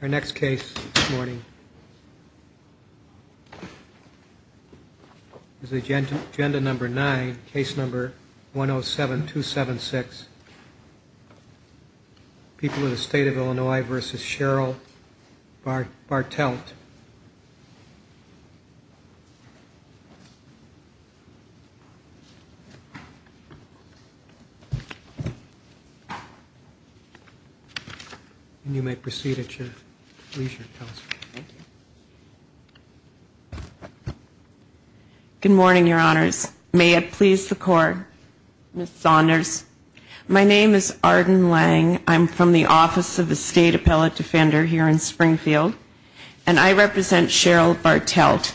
Our next case this morning is agenda number nine, case number 107276. People of the State of Illinois v. Cheryl Bartelt. You may proceed at your leisure, Counselor. Good morning, Your Honors. May it please the Court, Ms. Saunders. My name is Arden Lang. I'm from the Office of the State Appellate Defender here in Springfield, and I represent Cheryl Bartelt.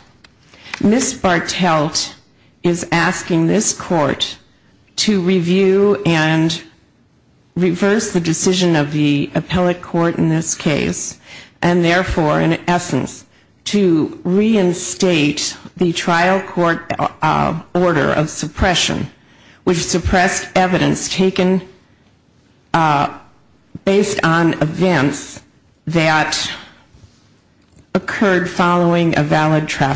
Ms. Bartelt is asking this Court to review and reverse the decision of the appellate court in this case, and therefore, in essence, to reinstate the trial court order of suppression, which suppressed evidence taken based on events that occurred following a valid trial.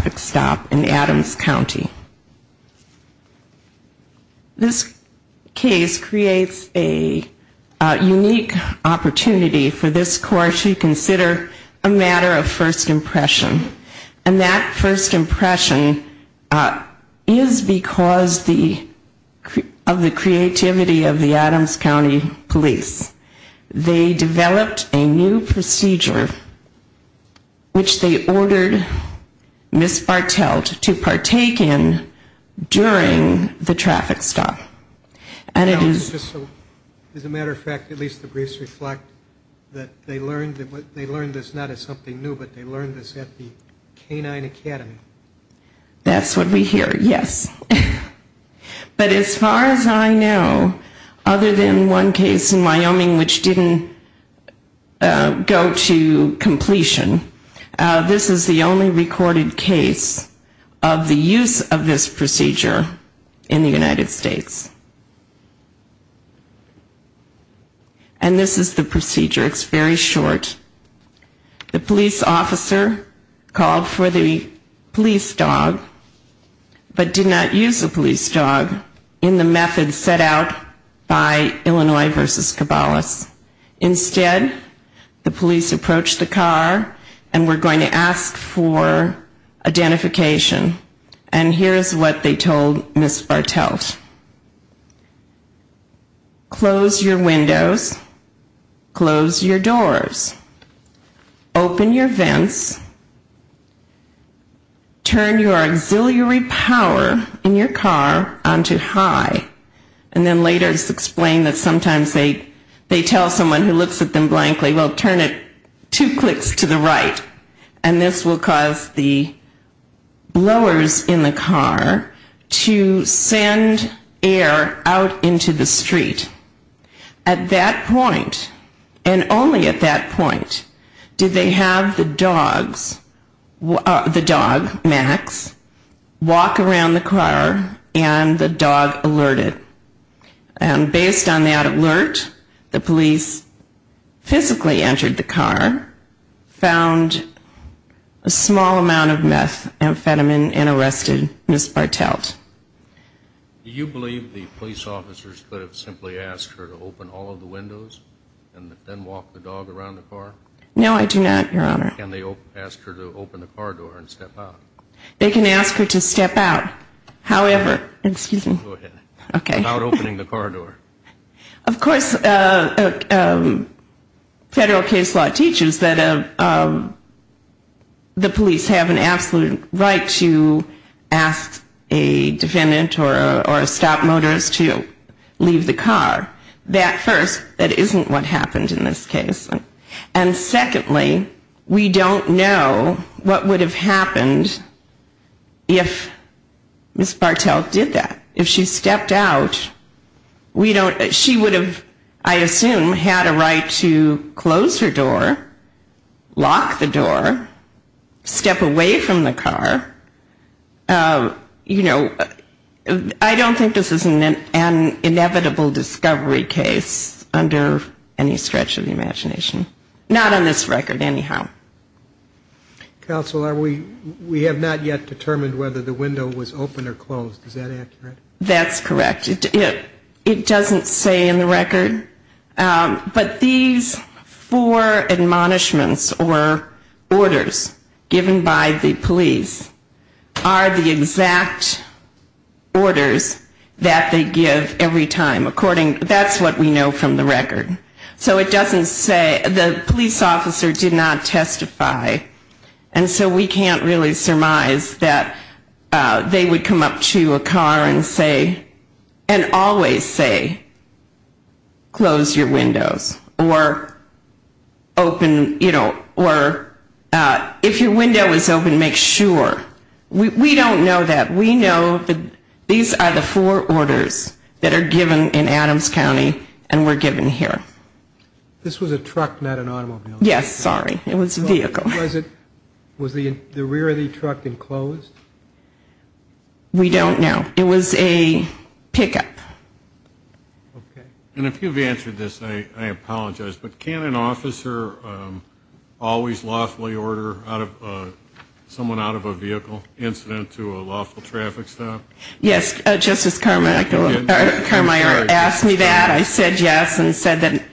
This case creates a unique opportunity for this Court to consider a matter of first impression, and that first impression is because of the creativity of the Adams County Police. In this case, they developed a new procedure, which they ordered Ms. Bartelt to partake in during the traffic stop. As a matter of fact, at least the briefs reflect that they learned this not as something new, but they learned this at the K-9 Academy. That's what we hear, yes. But as far as I know, other than one case in Wyoming which didn't go to completion, this is the only recorded case of the use of this procedure in the United States. And this is the procedure. It's very short. The police officer called for the police dog, but did not use the police dog in the method set out by Illinois v. Cabalas. Instead, the police approached the car and were going to ask for identification. And here is what they told Ms. Bartelt. Close your windows. Close your doors. Open your vents. Turn your auxiliary power in your car onto high. And then later it's explained that sometimes they tell someone who looks at them blankly, well, turn it two clicks to the right. And this will cause the blowers in the car to send air out into the street. At that point, and only at that point, did they have the dogs, the dog, Max, walk around the car and the dog alerted. And based on that alert, the police physically entered the car, found a small amount of methamphetamine and arrested Ms. Bartelt. Do you believe the police officers could have simply asked her to open all of the windows and then walk the dog around the car? No, I do not, Your Honor. Can they ask her to open the car door and step out? They can ask her to step out. However, excuse me. Go ahead. Okay. Without opening the car door. Of course, federal case law teaches that the police have an absolute right to ask a defendant or a stop motorist to leave the car. That first, that isn't what happened in this case. And secondly, we don't know what would have happened if Ms. Bartelt did that. If she stepped out, we don't, she would have, I assume, had a right to close her door, lock the door, step away from the car. You know, I don't think this is an inevitable discovery case under any stretch of the imagination. Not on this record, anyhow. Counsel, we have not yet determined whether the window was open or closed. Is that accurate? That's correct. It doesn't say in the record. But these four admonishments or orders given by the police are the exact orders that they give every time. According, that's what we know from the record. So it doesn't say, the police officer did not testify, and so we can't really surmise that they would come up to a car and say, and always say, close your windows, or open, you know, or if your window is open, make sure. We don't know that. We know that these are the four orders that are given in Adams County and were given here. This was a truck, not an automobile. Yes, sorry. It was a vehicle. Was the rear of the truck enclosed? We don't know. It was a pickup. Okay. And if you've answered this, I apologize, but can an officer always lawfully order someone out of a vehicle incident to a lawful traffic stop? Yes. Justice Carmeier asked me that. I said yes and said that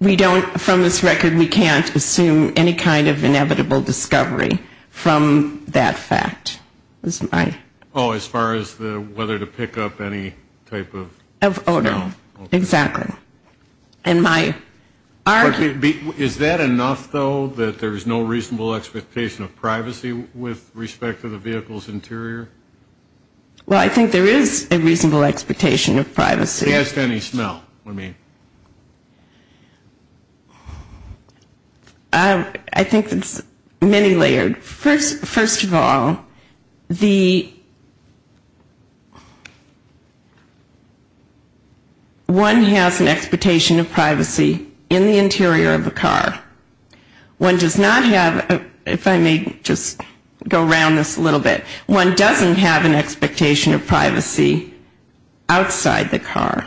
we don't, from this record, we can't assume any kind of inevitable discovery from that fact. Oh, as far as whether to pick up any type of smell? Oh, no. Exactly. Is that enough, though, that there's no reasonable expectation of privacy with respect to the vehicle's interior? Well, I think there is a reasonable expectation of privacy. He asked any smell. What do you mean? I think it's many layered. First of all, one has an expectation of privacy in the interior of a car. One does not have, if I may just go around this a little bit, one doesn't have an expectation of privacy outside the car.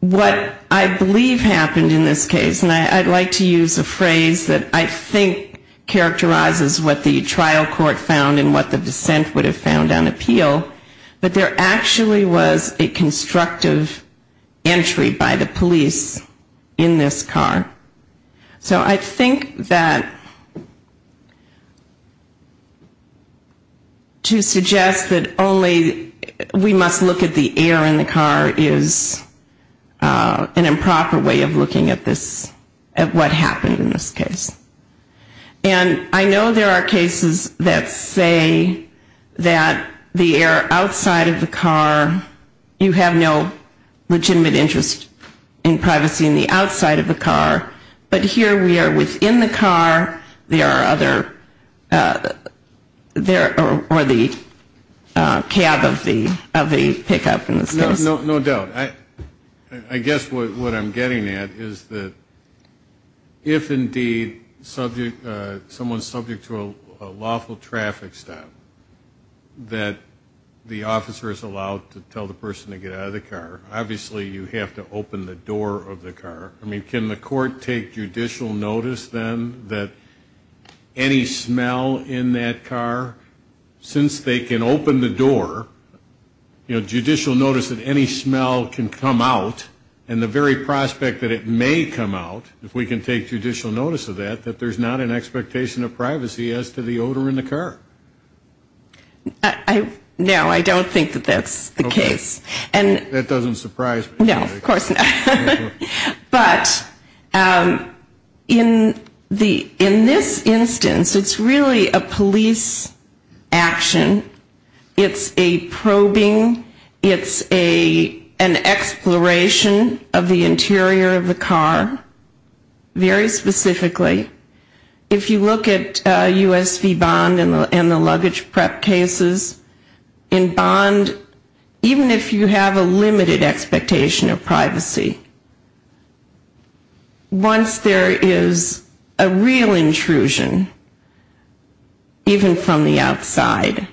What I believe happened in this case, and I'd like to use a phrase that I think characterizes what the trial court found and what the dissent would have found on appeal, but there actually was a constructive entry by the police in this car. So I think that to suggest that only we must look at the air in the car is an improper way of looking at what happened in this case. And I know there are cases that say that the air outside of the car, you have no legitimate interest in privacy in the outside of the car, but here we are within the car, there are other, or the cab of the pickup in this case. No doubt. I guess what I'm getting at is that if indeed someone's subject to a lawful traffic stop, that the officer is allowed to tell the person to get out of the car, obviously you have to open the door of the car. I mean, can the court take judicial notice then that any smell in that car, since they can open the door, you know, judicial notice that any smell can come out, and the very prospect that it may come out, if we can take judicial notice of that, that there's not an expectation of privacy as to the odor in the car? No, I don't think that that's the case. That doesn't surprise me. No, of course not. But in this instance, it's really a police action. It's a probing. It's an exploration of the interior of the car, very specifically. If you look at USV bond and the luggage prep cases, in bond, even if you have a limited expectation of privacy, once there is a real intrusion, even from the outside,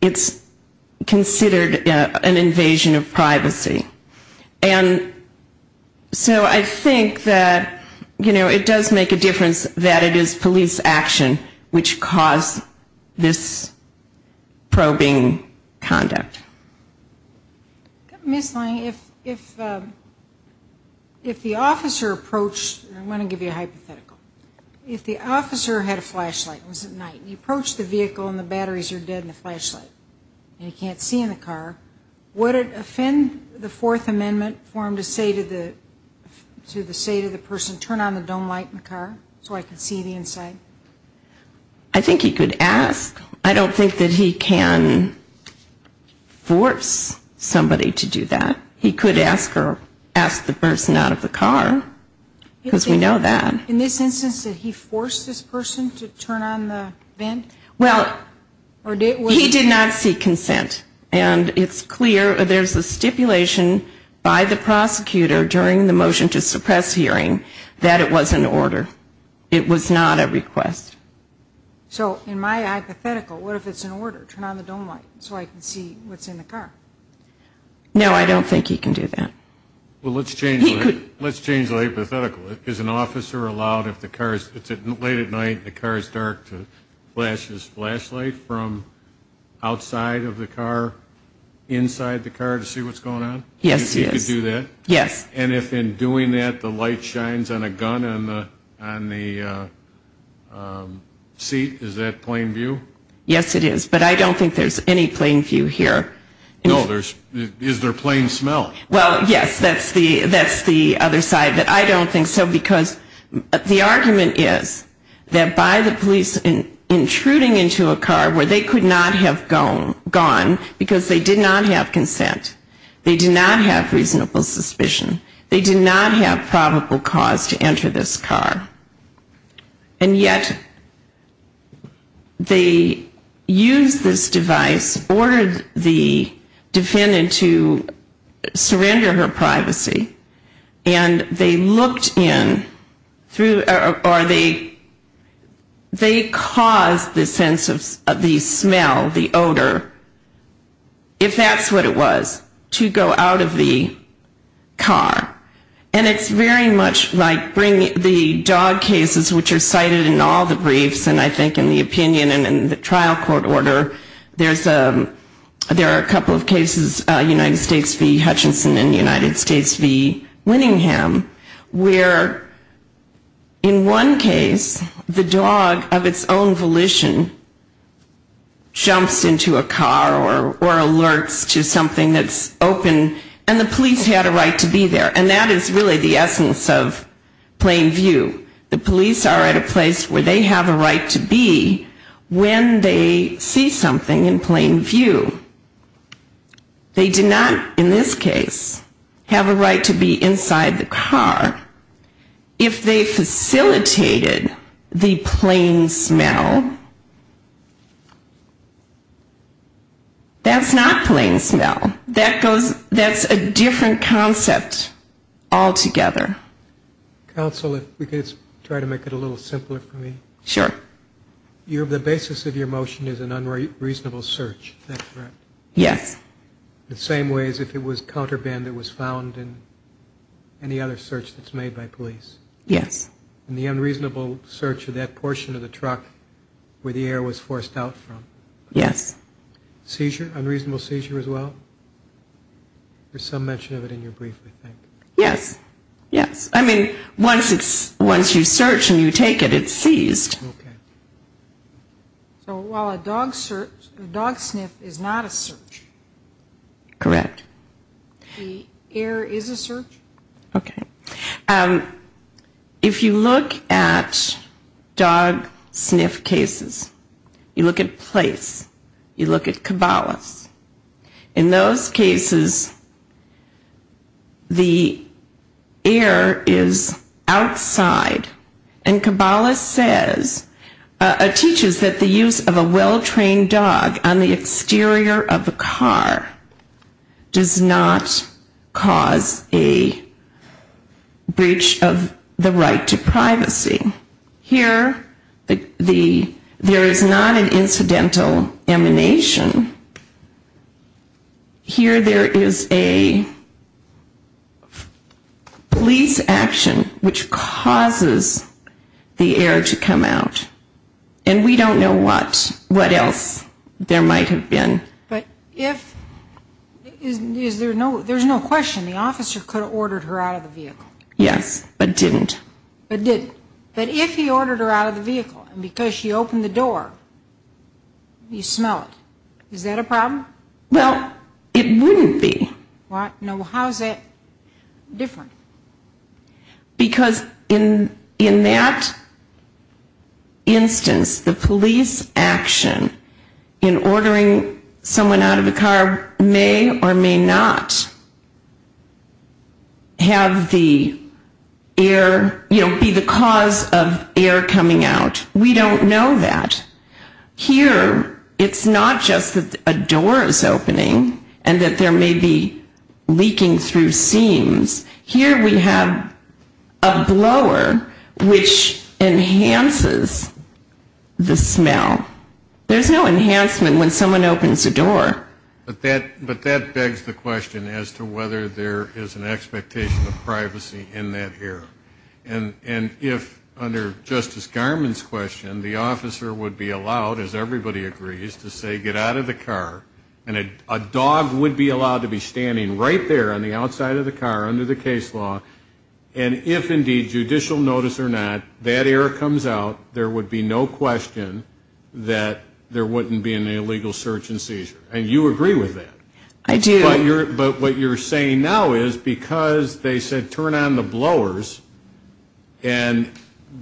it's considered a real intrusion. It's considered an invasion of privacy. And so I think that, you know, it does make a difference that it is police action which caused this probing conduct. Ms. Lang, if the officer approached, I want to give you a hypothetical. If the officer had a flashlight, it was at night, you approach the vehicle and the batteries are dead in the flashlight, and he can't see in the car, would it offend the Fourth Amendment for him to say to the person, turn on the dome light in the car so I can see the inside? I think he could ask. I don't think that he can force somebody to do that. He could ask or ask the person out of the car, because we know that. In this instance, did he force this person to turn on the vent? Well, he did not seek consent, and it's clear, there's a stipulation by the prosecutor during the motion to suppress hearing that it was an order. It was not a request. So in my hypothetical, what if it's an order, turn on the dome light so I can see what's in the car? No, I don't think he can do that. Let's change the hypothetical. Is an officer allowed, if it's late at night and the car is dark, to flash his flashlight from outside of the car, inside the car, to see what's going on? Yes, he is. And if in doing that, the light shines on a gun on the seat, is that plain view? Yes, it is, but I don't think there's any plain view here. No, is there plain smell? Well, yes, that's the other side, but I don't think so, because the argument is that by the police intruding into a car where they could not have gone, because they did not have consent, they did not have reasonable suspicion, they did not have probable cause to enter this car. And yet they used this device, ordered the defendant to surrender her privacy, and they looked in through, or they caused the sense of the smell, the odor, if that's what it was, to go out of the car. And it's very much like the dog cases which are cited in all the briefs, and I think in the opinion and in the trial court order, there are a couple of cases, United States v. Hutchinson and United States v. Winningham, where in one case, the dog of its own volition jumps into a car or alerts to something that's open, and the police had a right to be there. And that is really the essence of plain view. The police are at a place where they have a right to be when they see something in plain view. They did not, in this case, have a right to be inside the car. If they facilitated the plain smell, that's not plain smell. That's a different concept altogether. Counsel, if we could try to make it a little simpler for me. Sure. The basis of your motion is an unreasonable search, is that correct? Yes. The same way as if it was counter band that was found in any other search that's made by police? Yes. Seizure, unreasonable seizure as well? There's some mention of it in your brief, I think. Yes, yes. I mean, once you search and you take it, it's seized. So while a dog sniff is not a search? Correct. The air is a search? Okay. If you look at dog sniff cases, you look at place, you look at Cabalas. In those cases, the air is outside, and Cabalas says, teaches that the use of a well-trained dog on the exterior of a car does not cause a breach of the right to privacy. Here, there is not an incidental emanation. Here, there is a police action which causes the air to come out. And we don't know what else there might have been. But if, there's no question, the officer could have ordered her out of the vehicle? Yes, but didn't. But didn't. But if he ordered her out of the vehicle, and because she opened the door, you smell it, is that a problem? Well, it wouldn't be. How is that different? Because in that instance, the police action in ordering someone out of the car may or may not have the air, you know, be the cause of air coming out. We don't know that. Here, it's not just that a door is opening and that there may be leaking through seams. Here, we have a blower which enhances the smell. There's no enhancement when someone opens a door. But that begs the question as to whether there is an expectation of privacy in that air. And if, under Justice Garmon's question, the officer would be allowed, as everybody agrees, to say get out of the car, and a dog would be allowed to be standing right there on the outside of the car under the case law. And if indeed, judicial notice or not, that air comes out, there would be no question that there wouldn't be an illegal search and seizure. And you agree with that. And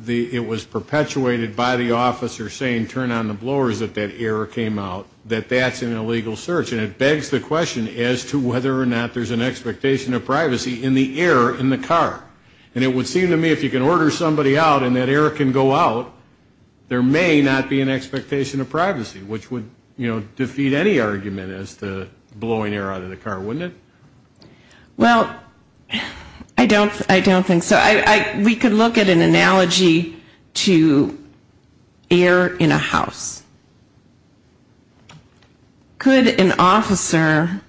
it was perpetuated by the officer saying turn on the blowers if that air came out, that that's an illegal search. And it begs the question as to whether or not there's an expectation of privacy in the air in the car. And it would seem to me if you can order somebody out and that air can go out, there may not be an expectation of privacy, which would, you know, defeat any argument as to blowing air out of the car, wouldn't it? Well, I don't think so. We could look at an analogy to air in a house. Could an officer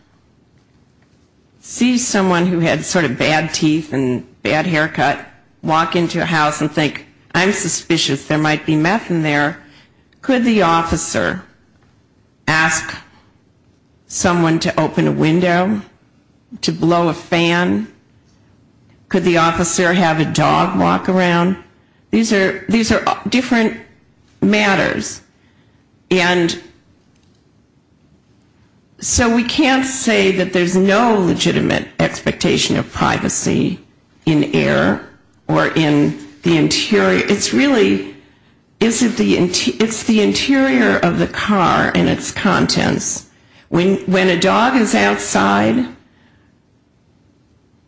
see someone who had sort of bad teeth and bad haircut walk into a house and think I'm suspicious there might be meth in there? Could the officer ask someone to open a window, to blow a fan? Could the officer have a dog walk around? These are different matters. And so we can't say that there's no legitimate expectation of privacy in air or in the interior. It's really, it's the interior of the car and its contents. When a dog is outside,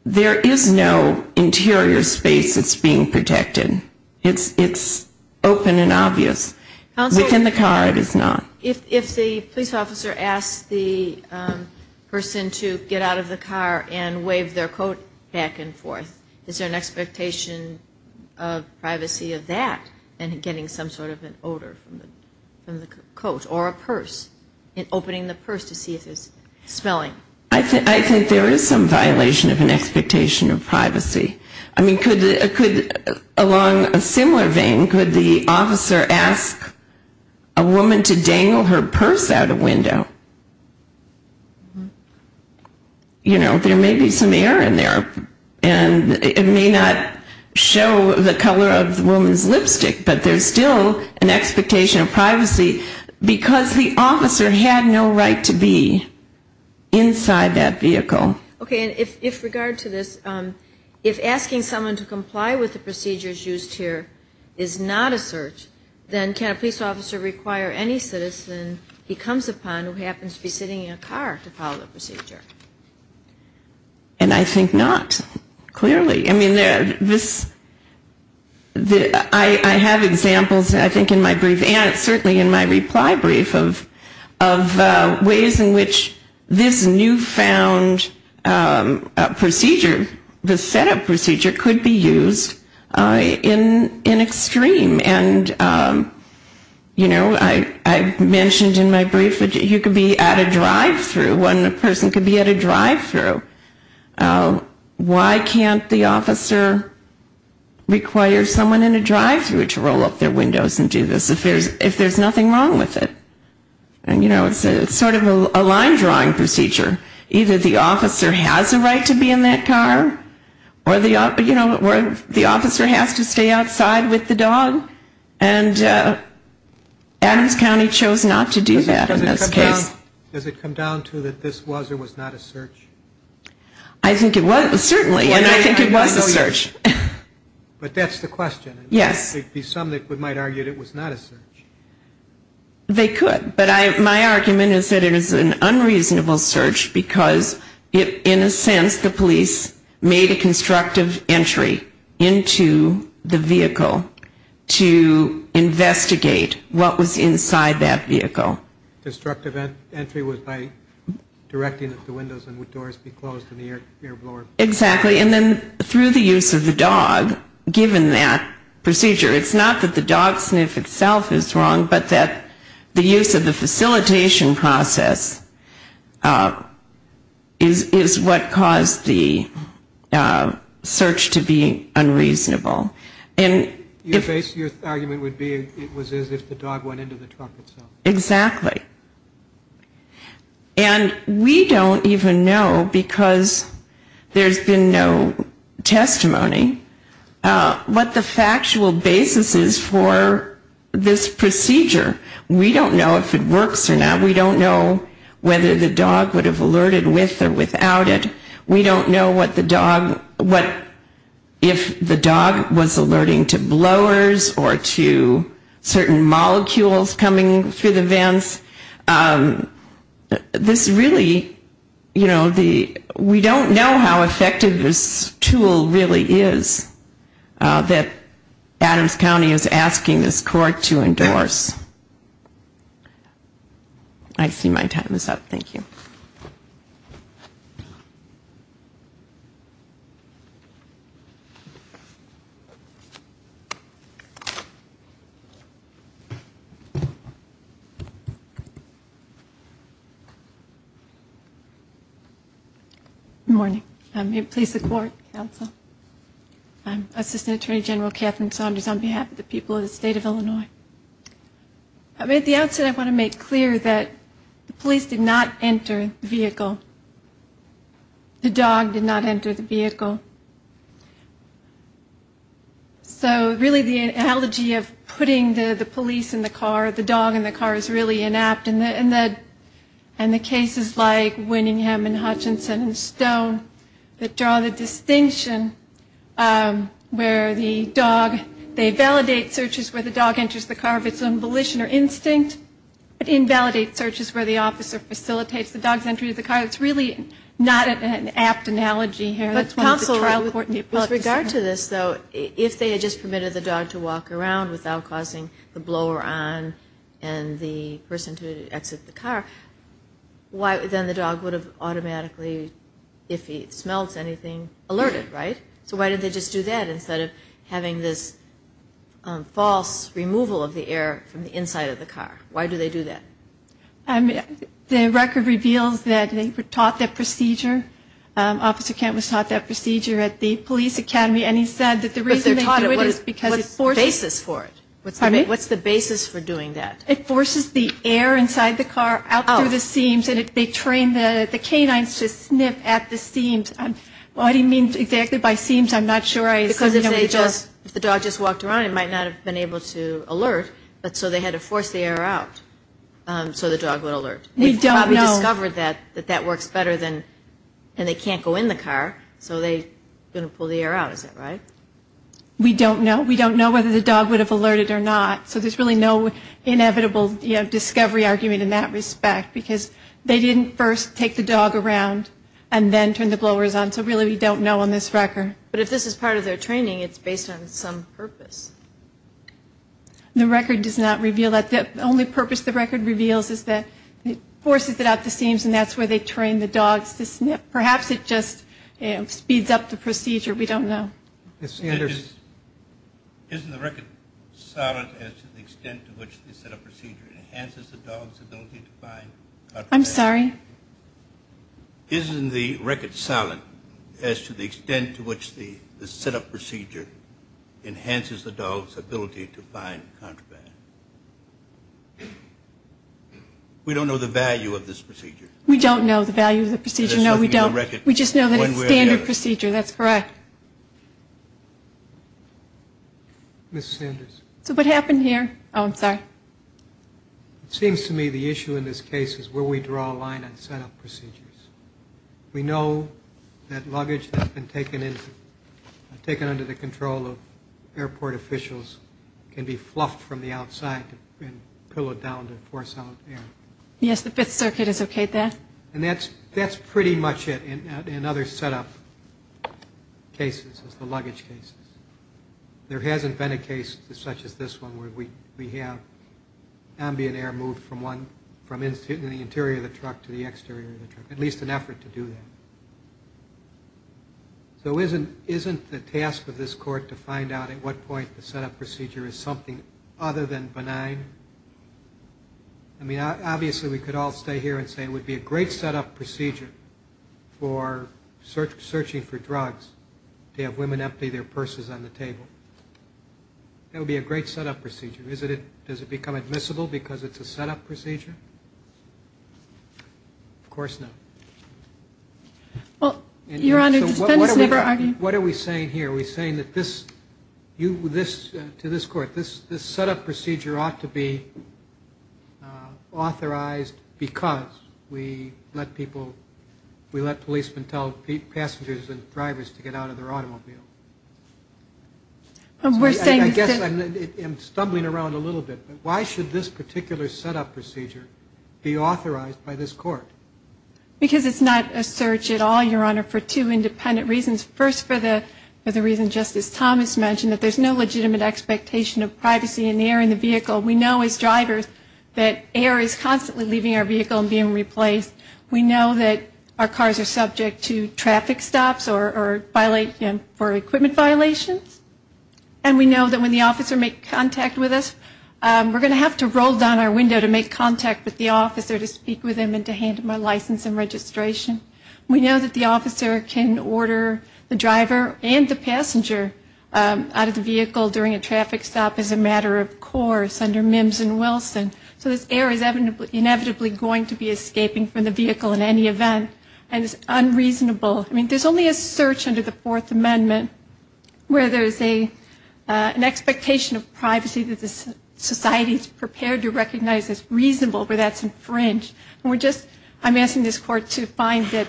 there is no interior space that's being protected. It's open and obvious. Within the car it is not. If the police officer asks the person to get out of the car and wave their coat back and forth, is there an expectation of privacy of that and getting some sort of an odor from the coat or a purse, opening the purse to see if there's smelling? I think there is some violation of an expectation of privacy. Along a similar vein, could the officer ask a woman to dangle her purse out a window? There may be some air in there and it may not show the color of the woman's lipstick, but there's still an expectation of privacy because the officer had no right to be inside that vehicle. Okay. And if regard to this, if asking someone to comply with the procedures used here is not a search, then can a police officer require any citizen he comes upon who happens to be sitting in a car to follow the procedure? And I think not, clearly. I mean, this, I have examples I think in my brief and certainly in my reply brief of ways in which this newfound, I mean, this is not a search. This is a procedure, the setup procedure could be used in extreme and, you know, I mentioned in my brief that you could be at a drive-thru, one person could be at a drive-thru. Why can't the officer require someone in a drive-thru to roll up their windows and do this if there's nothing wrong with it? And, you know, it's sort of a line drawing procedure. Either the officer has a right to be in that car or, you know, the officer has to stay outside with the dog and Adams County chose not to do that in this case. Does it come down to that this was or was not a search? I think it was certainly and I think it was a search. But that's the question. Yes. Some might argue it was not a search. They could, but my argument is that it is an unreasonable search because in a sense the police made a constructive entry into the vehicle to investigate what was inside that vehicle. The constructive entry was by directing at the windows and would doors be closed in the air blower? Exactly. And then through the use of the dog, given that procedure, it's not that the dog sniff itself is wrong, but that the use of the facilitation process is what caused the search to be unreasonable. Your argument would be it was as if the dog went into the truck itself. Exactly. And we don't even know because there's been no testimony what the factual basis is for this procedure. We don't know if it works or not. We don't know whether the dog would have alerted with or without it. Whether it was alerting to blowers or to certain molecules coming through the vents. This really, you know, we don't know how effective this tool really is that Adams County is asking this court to endorse. I see my time is up. Good morning. I'm Assistant Attorney General Catherine Saunders on behalf of the people of the state of Illinois. At the outset I want to make clear that the police did not enter the vehicle. So really the analogy of putting the police in the car, the dog in the car, is really inapt. And the cases like Winningham and Hutchinson and Stone that draw the distinction where the dog, they validate searches where the dog enters the car of its own volition or instinct, but invalidate searches where the officer facilitates the dog's entry to the car. It's really not an apt analogy here. If they had just permitted the dog to walk around without causing the blower on and the person to exit the car, then the dog would have automatically, if he smelts anything, alerted, right? So why did they just do that instead of having this false removal of the air from the inside of the car? Why do they do that? The record reveals that they were taught that procedure. Officer Kent was taught that procedure at the police academy and he said that the reason they do it is because it forces the air inside the car out through the seams and they train the canines to sniff at the seams. What he means exactly by seams I'm not sure I understand. If the dog just walked around it might not have been able to alert, so they had to force the air out so the dog would alert. We discovered that that works better than, and they can't go in the car, so they're going to pull the air out, is that right? We don't know. We don't know whether the dog would have alerted or not, so there's really no inevitable discovery argument in that respect because they didn't first take the dog around and then turn the blowers on, so really we don't know on this record. But if this is part of their training it's based on some purpose. The record does not reveal that. The only purpose the record reveals is that it forces it out the seams and that's where they train the dogs to sniff. Perhaps it just speeds up the procedure. We don't know. Isn't the record solid as to the extent to which the setup procedure enhances the dog's ability to find contraband? I'm sorry? Isn't the record solid as to the extent to which the setup procedure enhances the dog's ability to find contraband? We don't know the value of this procedure. We don't know the value of the procedure, no, we don't. We just know that it's a standard procedure, that's correct. So what happened here? Oh, I'm sorry. It seems to me the issue in this case is where we draw a line on setup procedures. We know that luggage that's been taken under the control of airport officials can be fluffed from the outside and pillowed down to force out air. And that's pretty much it in other setup cases, the luggage cases. There hasn't been a case such as this one where we have ambient air moved from the interior of the truck to the exterior of the truck. It's just an effort to do that. So isn't the task of this court to find out at what point the setup procedure is something other than benign? I mean, obviously we could all stay here and say it would be a great setup procedure for searching for drugs to have women that would be a great setup procedure. Is it does it become admissible because it's a setup procedure? Of course not. What are we saying here? We're saying that this you this to this court this this setup procedure ought to be authorized because we let people we let people in. I guess I'm stumbling around a little bit. Why should this particular setup procedure be authorized by this court? Because it's not a search at all, Your Honor, for two independent reasons. First, for the for the reason Justice Thomas mentioned, that there's no legitimate expectation of privacy in the air in the vehicle. We know as drivers that air is constantly leaving our vehicle and being replaced. We know that our cars are subject to traffic stops or violate for equipment violations. And we know that when the officer make contact with us, we're going to have to roll down our window to make contact with the officer to speak with him and to hand him a license and registration. We know that the officer can order the driver and the passenger out of the vehicle during a traffic stop as a matter of course, under Mims and Wilson. So this air is inevitably going to be escaping from the vehicle in any event. And it's unreasonable. I mean, there's only a search under the Fourth Amendment where there's an expectation of privacy that the society is prepared to recognize as reasonable where that's infringed. And we're just, I'm asking this Court to find that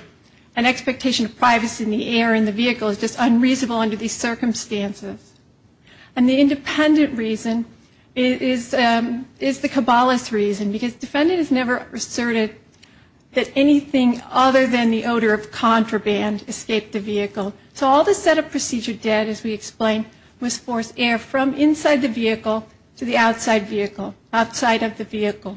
an expectation of privacy in the air in the vehicle is just unreasonable under these circumstances. And the independent reason is the Cabales reason, because defendant has never asserted that anything other than the odor of contraband escaped the vehicle. So all the setup procedure did, as we explained, was force air from inside the vehicle to the outside vehicle, outside of the vehicle.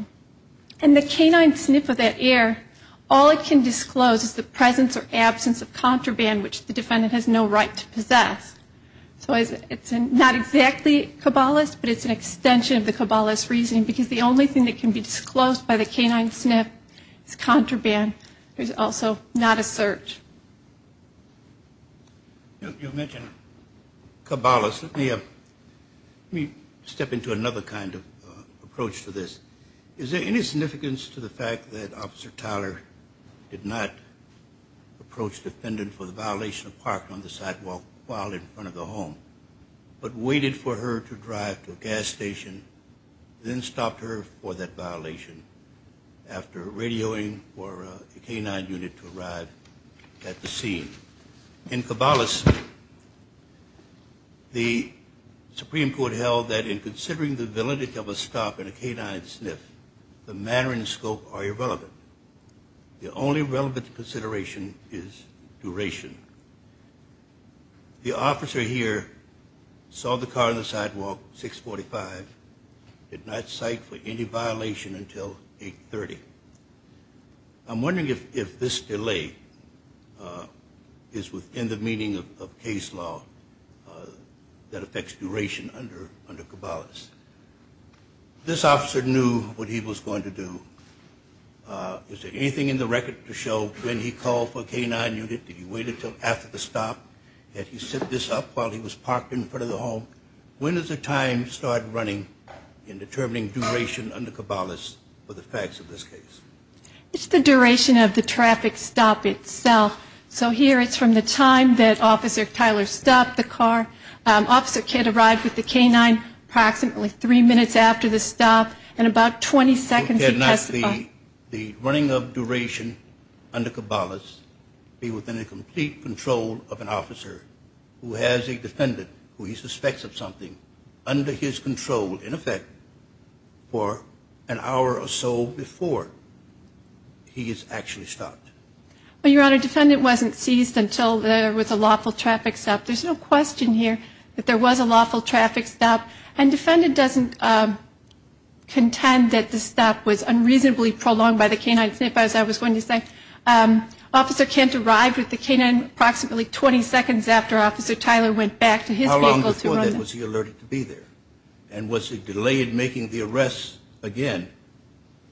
And the canine sniff of that air, all it can disclose is the presence or absence of contraband, which the defendant has no right to possess. So it's not exactly Cabales, but it's an extension of the Cabales reasoning, because the only thing that can be disclosed by the canine sniff is contraband. There's also not a search. You mentioned Cabales. Let me step into another kind of approach to this. Is there any significance to the fact that Officer Tyler did not approach defendant for the violation of parking on the sidewalk while in front of the home, but waited for her to drive to a gas station, then stopped her for that violation after radioing for a canine unit to stop at the scene? In Cabales, the Supreme Court held that in considering the validity of a stop in a canine sniff, the manner and scope are irrelevant. The only relevant consideration is duration. The officer here saw the car on the sidewalk, 645, did not cite for any violation until 830. I'm wondering if this delay is within the meaning of case law that affects duration under Cabales. This officer knew what he was going to do. Is there anything in the record to show when he called for a canine unit? Did he wait until after the stop? Did he sit this up while he was parked in front of the home? When does the time start running in determining duration under Cabales for the facts of this case? It's the duration of the traffic stop itself. So here it's from the time that Officer Tyler stopped the car. Officer Kidd arrived with the canine approximately three minutes after the stop and about 20 seconds. He had not the running of duration under Cabales. He was in complete control of an officer who has a defendant who he suspects of something under his control, in effect, for an hour or so before he has actually stopped. Your Honor, defendant wasn't seized until there was a lawful traffic stop. There's no question here that there was a lawful traffic stop. And defendant doesn't contend that the stop was unreasonably prolonged by the canine. As I was going to say, Officer Kent arrived with the canine approximately 20 seconds after Officer Tyler went back to his vehicle. How long before then was he alerted to be there? And was he delayed making the arrest again,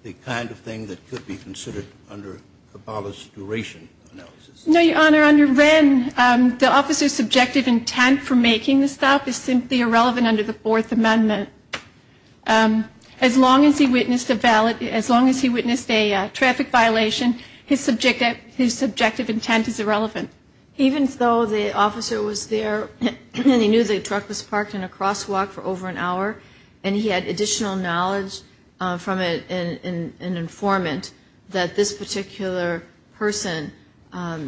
the kind of thing that could be considered under Cabales' duration analysis? No, Your Honor. Your Honor, then the officer's subjective intent for making the stop is simply irrelevant under the Fourth Amendment. As long as he witnessed a traffic violation, his subjective intent is irrelevant. Even though the officer was there, he knew the truck was parked in a crosswalk for over an hour, and he had additional knowledge from an informant that this particular person,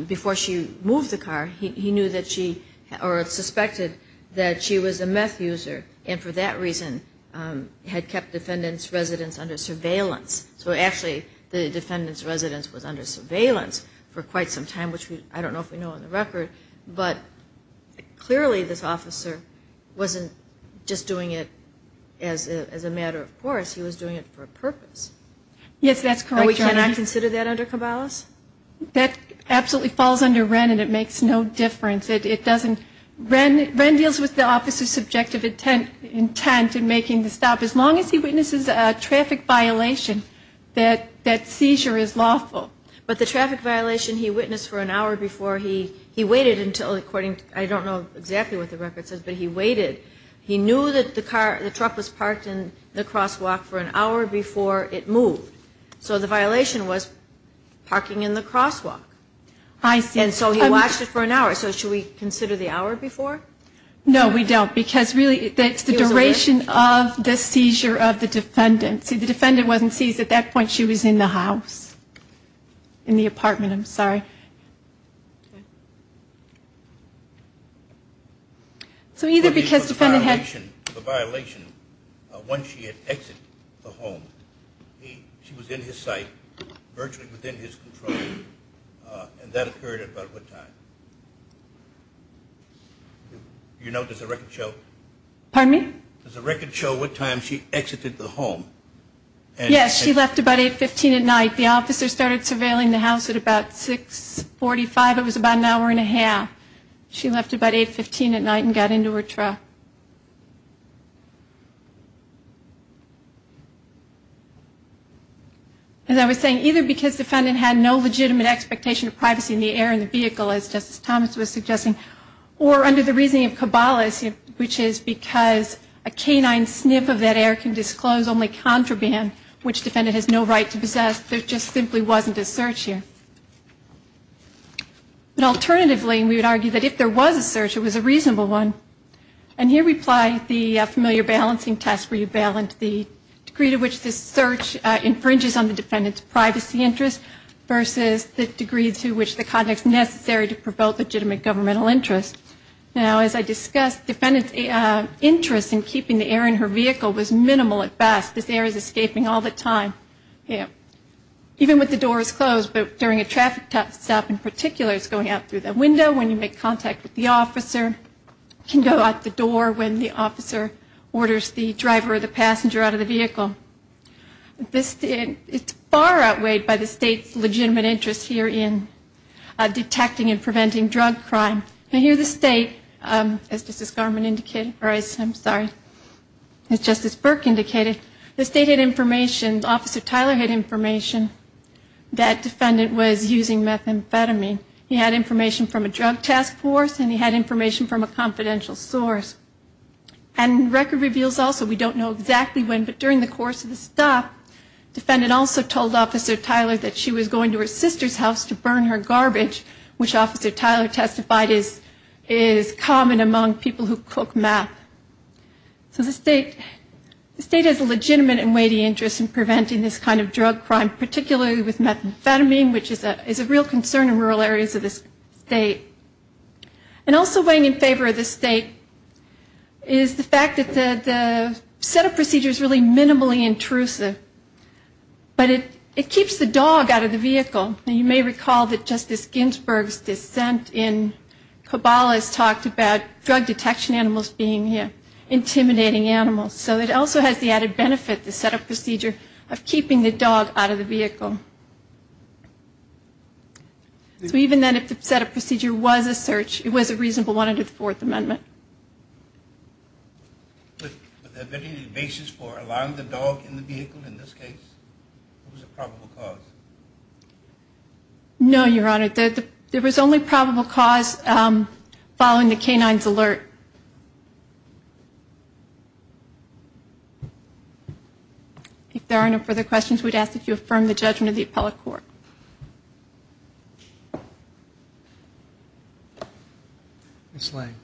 before she moved the car, he knew that she, or suspected that she was a meth user, and for that reason had kept defendant's residence under surveillance. So actually, the defendant's residence was under surveillance for quite some time, which I don't know if we know on the record, but clearly this officer wasn't just doing it as a matter of course, he was doing it for a purpose. Yes, that's correct, Your Honor. Can I consider that under Cabales? That absolutely falls under Wren, and it makes no difference. Wren deals with the officer's subjective intent in making the stop. As long as he witnesses a traffic violation, that seizure is lawful. But the traffic violation he witnessed for an hour before, he waited until, according to, I don't know exactly what the record says, but he waited, he knew that the truck was parked in the crosswalk for an hour before it moved. So the violation was parking in the crosswalk. And so he watched it for an hour. So should we consider the hour before? No, we don't, because really it's the duration of the seizure of the defendant. See, the defendant wasn't seized at that point. She was in the house, in the apartment, I'm sorry. So either because the defendant had... Once she had exited the home, she was in his sight, virtually within his control, and that occurred at about what time? You know, does the record show? Pardon me? Does the record show what time she exited the home? Yes, she left about 8.15 at night. The officer started surveilling the house at about 6.45. It was about an hour and a half. She left about 8.15 at night and got into her truck. As I was saying, either because the defendant had no legitimate expectation of privacy in the air in the vehicle, as Justice Thomas was suggesting, or under the reasoning of Kabbalists, which is because a canine sniff of that air can disclose only contraband, which the defendant has no right to possess. There just simply wasn't a search here. But alternatively, we would argue that if there was a search, it was a reasonable one. And here we apply the familiar balancing test where you balance the degree to which this search infringes on the defendant's privacy interest versus the degree to which the conduct is necessary to provoke legitimate governmental interest. Now, as I discussed, the defendant's interest in keeping the air in her vehicle was minimal at best. This air is escaping all the time. Even when the door is closed, but during a traffic stop in particular, it's going out through the window. When you make contact with the officer, it can go out the door when the officer orders the driver or the passenger out of the vehicle. It's far outweighed by the state's legitimate interest here in detecting and preventing drug crime. And here the state, as Justice Garmon indicated, or as I'm sorry, as Justice Burke indicated, the state had information, Officer Tyler had information that defendant was using methamphetamine. He had information from a drug task force and he had information from a confidential source. And record reveals also, we don't know exactly when, but during the course of the stop, defendant also told Officer Tyler that she was going to her sister's house to burn her garbage, which Officer Tyler testified is common among people who cook meth. So the state has a legitimate and weighty interest in preventing this kind of drug crime, particularly with methamphetamine, which is a real concern in rural areas of the state. And also weighing in favor of the state is the fact that the setup procedure is really minimally intrusive, but it keeps the dog out of the vehicle. And you may recall that Justice Ginsburg's dissent in Kabbalah's talked about drug detection animals being intimidating animals. So it also has the added benefit, the setup procedure, of keeping the dog out of the vehicle. So even then, if the setup procedure was a search, it was a reasonable one under the Fourth Amendment. Was there any basis for allowing the dog in the vehicle in this case? What was the probable cause? No, Your Honor. There was only probable cause following the canine's alert. If there are no further questions, we'd ask that you affirm the judgment of the appellate court. Ms. Lange.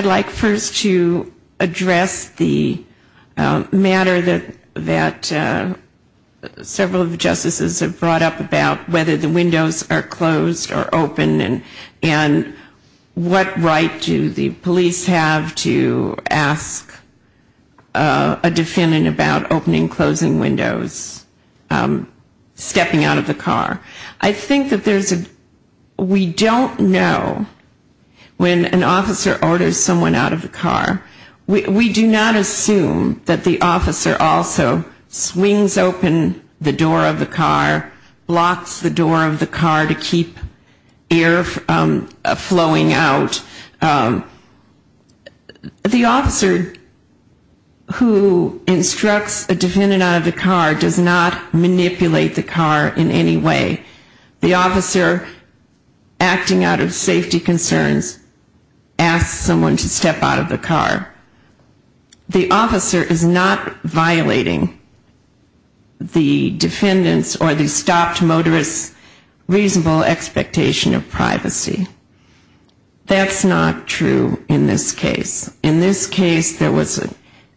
I'd like first to address the matter that several of the justices have brought up about whether the windows are closed or open and what right do the police have to ask a defendant about opening and closing windows, stepping out of the car. I think that there's a, we don't know when an officer orders someone out of the car, we do not assume that the officer also swings open the door of the car, blocks the door of the car to keep air flowing out. The officer who instructs a defendant out of the car does not manipulate the car in any way. The officer acting out of safety concerns asks someone to step out of the car. The officer is not violating the defendant's or the stopped motorist's reasonable expectation of privacy. That's not true in this case. In this case, there was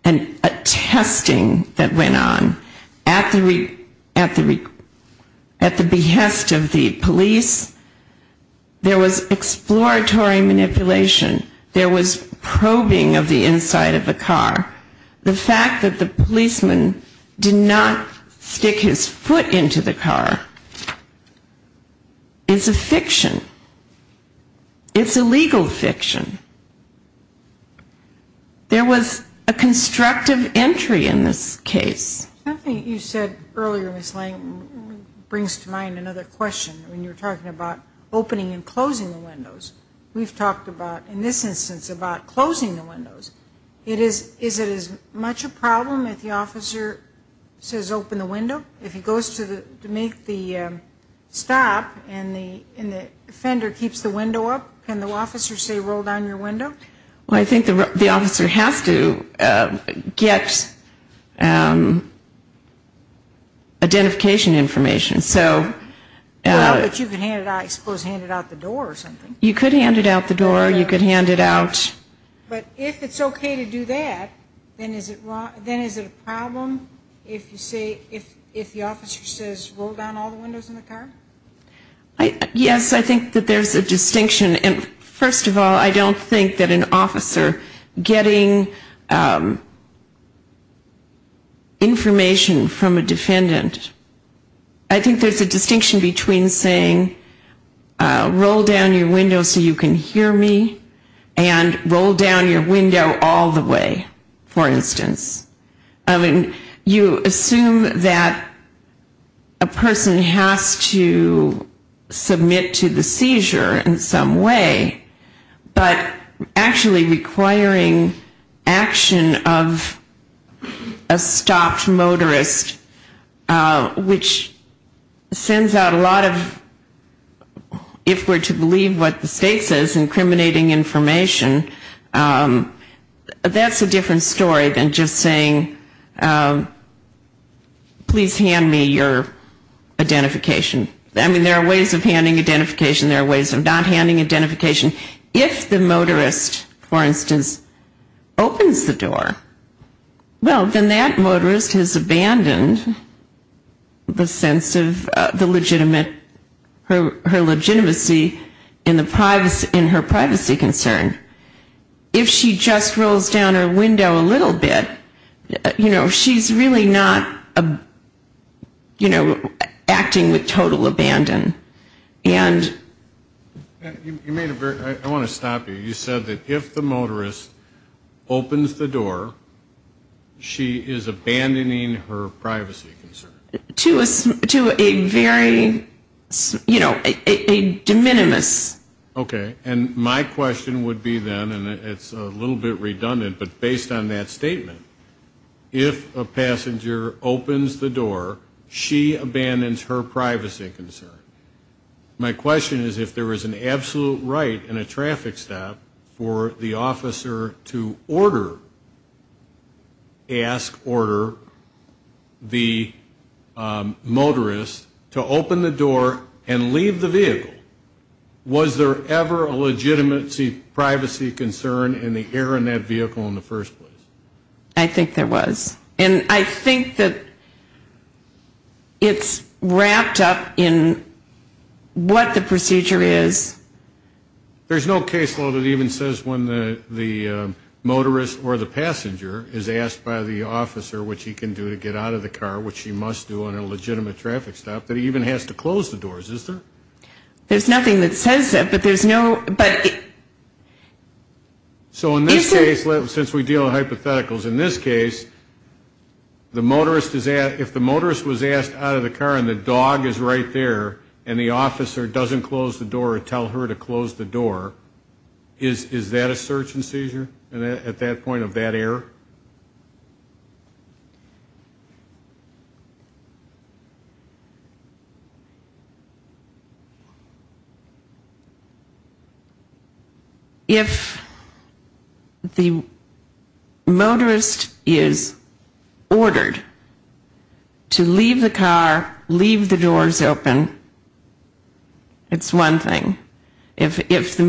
a testing that went on at the behest of the police. There was exploratory manipulation. There was probing of the inside of the car. The fact that the policeman did not stick his foot into the car is a fiction. It's a legal fiction. There was a constructive entry in this case. Something you said earlier, Ms. Lange, brings to mind another question when you're talking about opening and closing the windows. We've talked about, in this instance, about closing the windows. Is it as much a problem if the officer says open the window? If he goes to make the stop and the offender keeps the window up, can the officer say roll down your window? Well, I think the officer has to get identification information. Well, but you could, I suppose, hand it out the door or something. You could hand it out the door. But if it's okay to do that, then is it a problem if the officer says roll down all the windows in the car? Yes, I think that there's a distinction. First of all, I don't think that an officer getting information from a defendant, I think there's a distinction between saying roll down your window so you can hear me and roll down your window all the way, for instance. I mean, you assume that a person has to submit to the seizure in some way, but actually requiring action of a stopped motorist, which sends out a lot of, if we're to believe what the state says, incriminating information, that's a different story than just saying please hand me your identification. I mean, there are ways of handing identification. There are ways of not handing identification. If the motorist, for instance, opens the door, well, then that motorist has abandoned the sense of the legitimate, her legitimacy in her privacy concern. If she just rolls down her window a little bit, you know, she's really not, you know, acting with total abandon. And you made a very, I want to stop you. You said that if the motorist opens the door, she is abandoning her privacy concern. To a very, you know, a de minimis. Okay, and my question would be then, and it's a little bit redundant, but based on that statement, if a passenger opens the door, she abandons her privacy concern. My question is if there is an absolute right in a traffic stop for the officer to order, ask, order the motorist to open the door and leave the vehicle, was there ever a legitimacy, privacy concern in the air in that vehicle in the first place? I think there was. And I think that it's wrapped up in what the procedure is. There's no case law that even says when the motorist or the passenger is asked by the officer what she can do to get out of the car, what she must do on a legitimate traffic stop, that he even has to close the doors, is there? There's nothing that says that, but there's no, but... So in this case, since we deal with hypotheticals, in this case, the motorist is asked, if the motorist was asked out of the car and the dog is right there and the officer doesn't close the door or tell her to close the door, is that a search and seizure at that point of that error? If the motorist is ordered to leave the car, leave the doors open, it's one thing. If the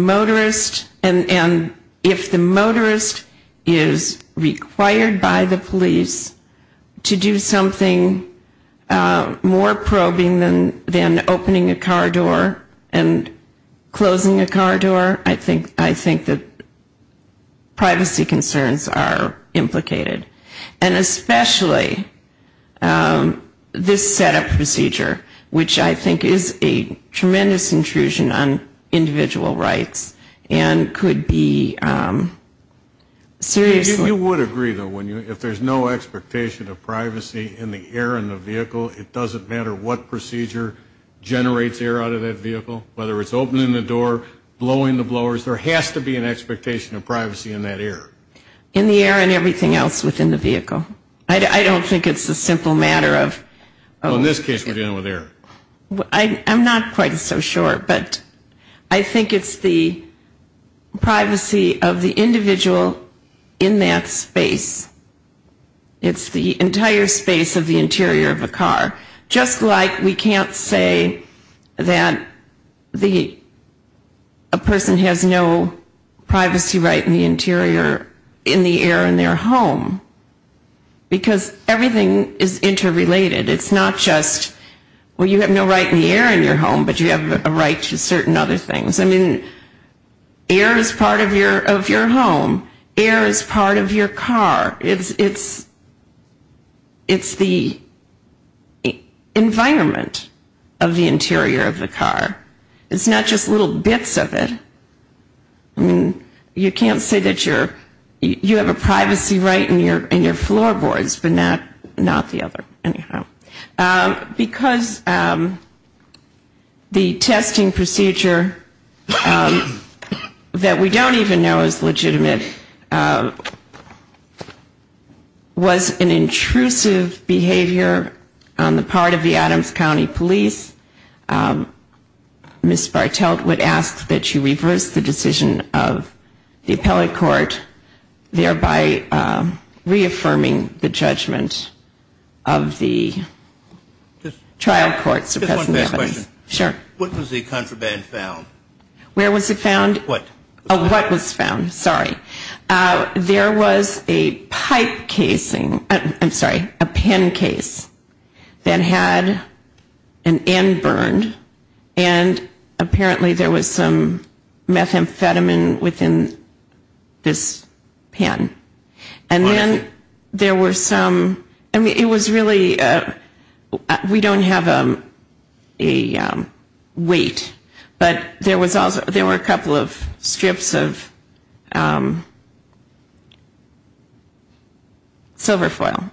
motorist is required by the police to do something more probing than opening a car door, that's another thing. But if it's more than opening a car door and closing a car door, I think that privacy concerns are implicated. And especially this setup procedure, which I think is a tremendous intrusion on individual rights and could be seriously... You would agree, though, if there's no expectation of privacy in the air in the vehicle, it doesn't matter what procedure generates air out of that vehicle, whether it's opening the door, blowing the blowers, there has to be an expectation of privacy in that air. In the air and everything else within the vehicle. I don't think it's a simple matter of... In this case, we're dealing with air. I'm not quite so sure, but I think it's the privacy of the individual in that space. It's the entire space of the interior of a car. Just like we can't say that a person has no privacy right in the interior, in the air in their home. Because everything is interrelated. It's not just, well, you have no right in the air in your home, but you have a right to certain other things. I mean, air is part of your home. Air is part of your car. It's the environment of the interior of the car. It's not just little bits of it. You can't say that you have a privacy right in your floorboards, but not the other. Because the testing procedure that we don't even know is legitimate, was an intrusive behavior on the part of the Adams County Police. Ms. Bartelt would ask that you reverse the decision of the appellate court, thereby reaffirming the judgment of the trial court. Just one last question. What was the contraband found? There was a pipe casing, I'm sorry, a pen case that had an end burned, and apparently there was some methamphetamine within this pen. And then there were some, I mean, it was really, we don't have a weight, but there were a couple of strips of silver foil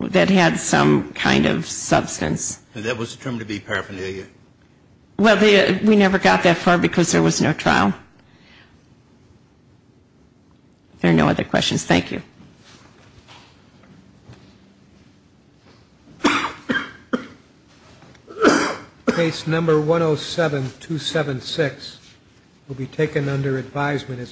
that had some kind of substance. And that was determined to be paraphernalia? Well, we never got that far because there was no trial. There are no other questions. Thank you.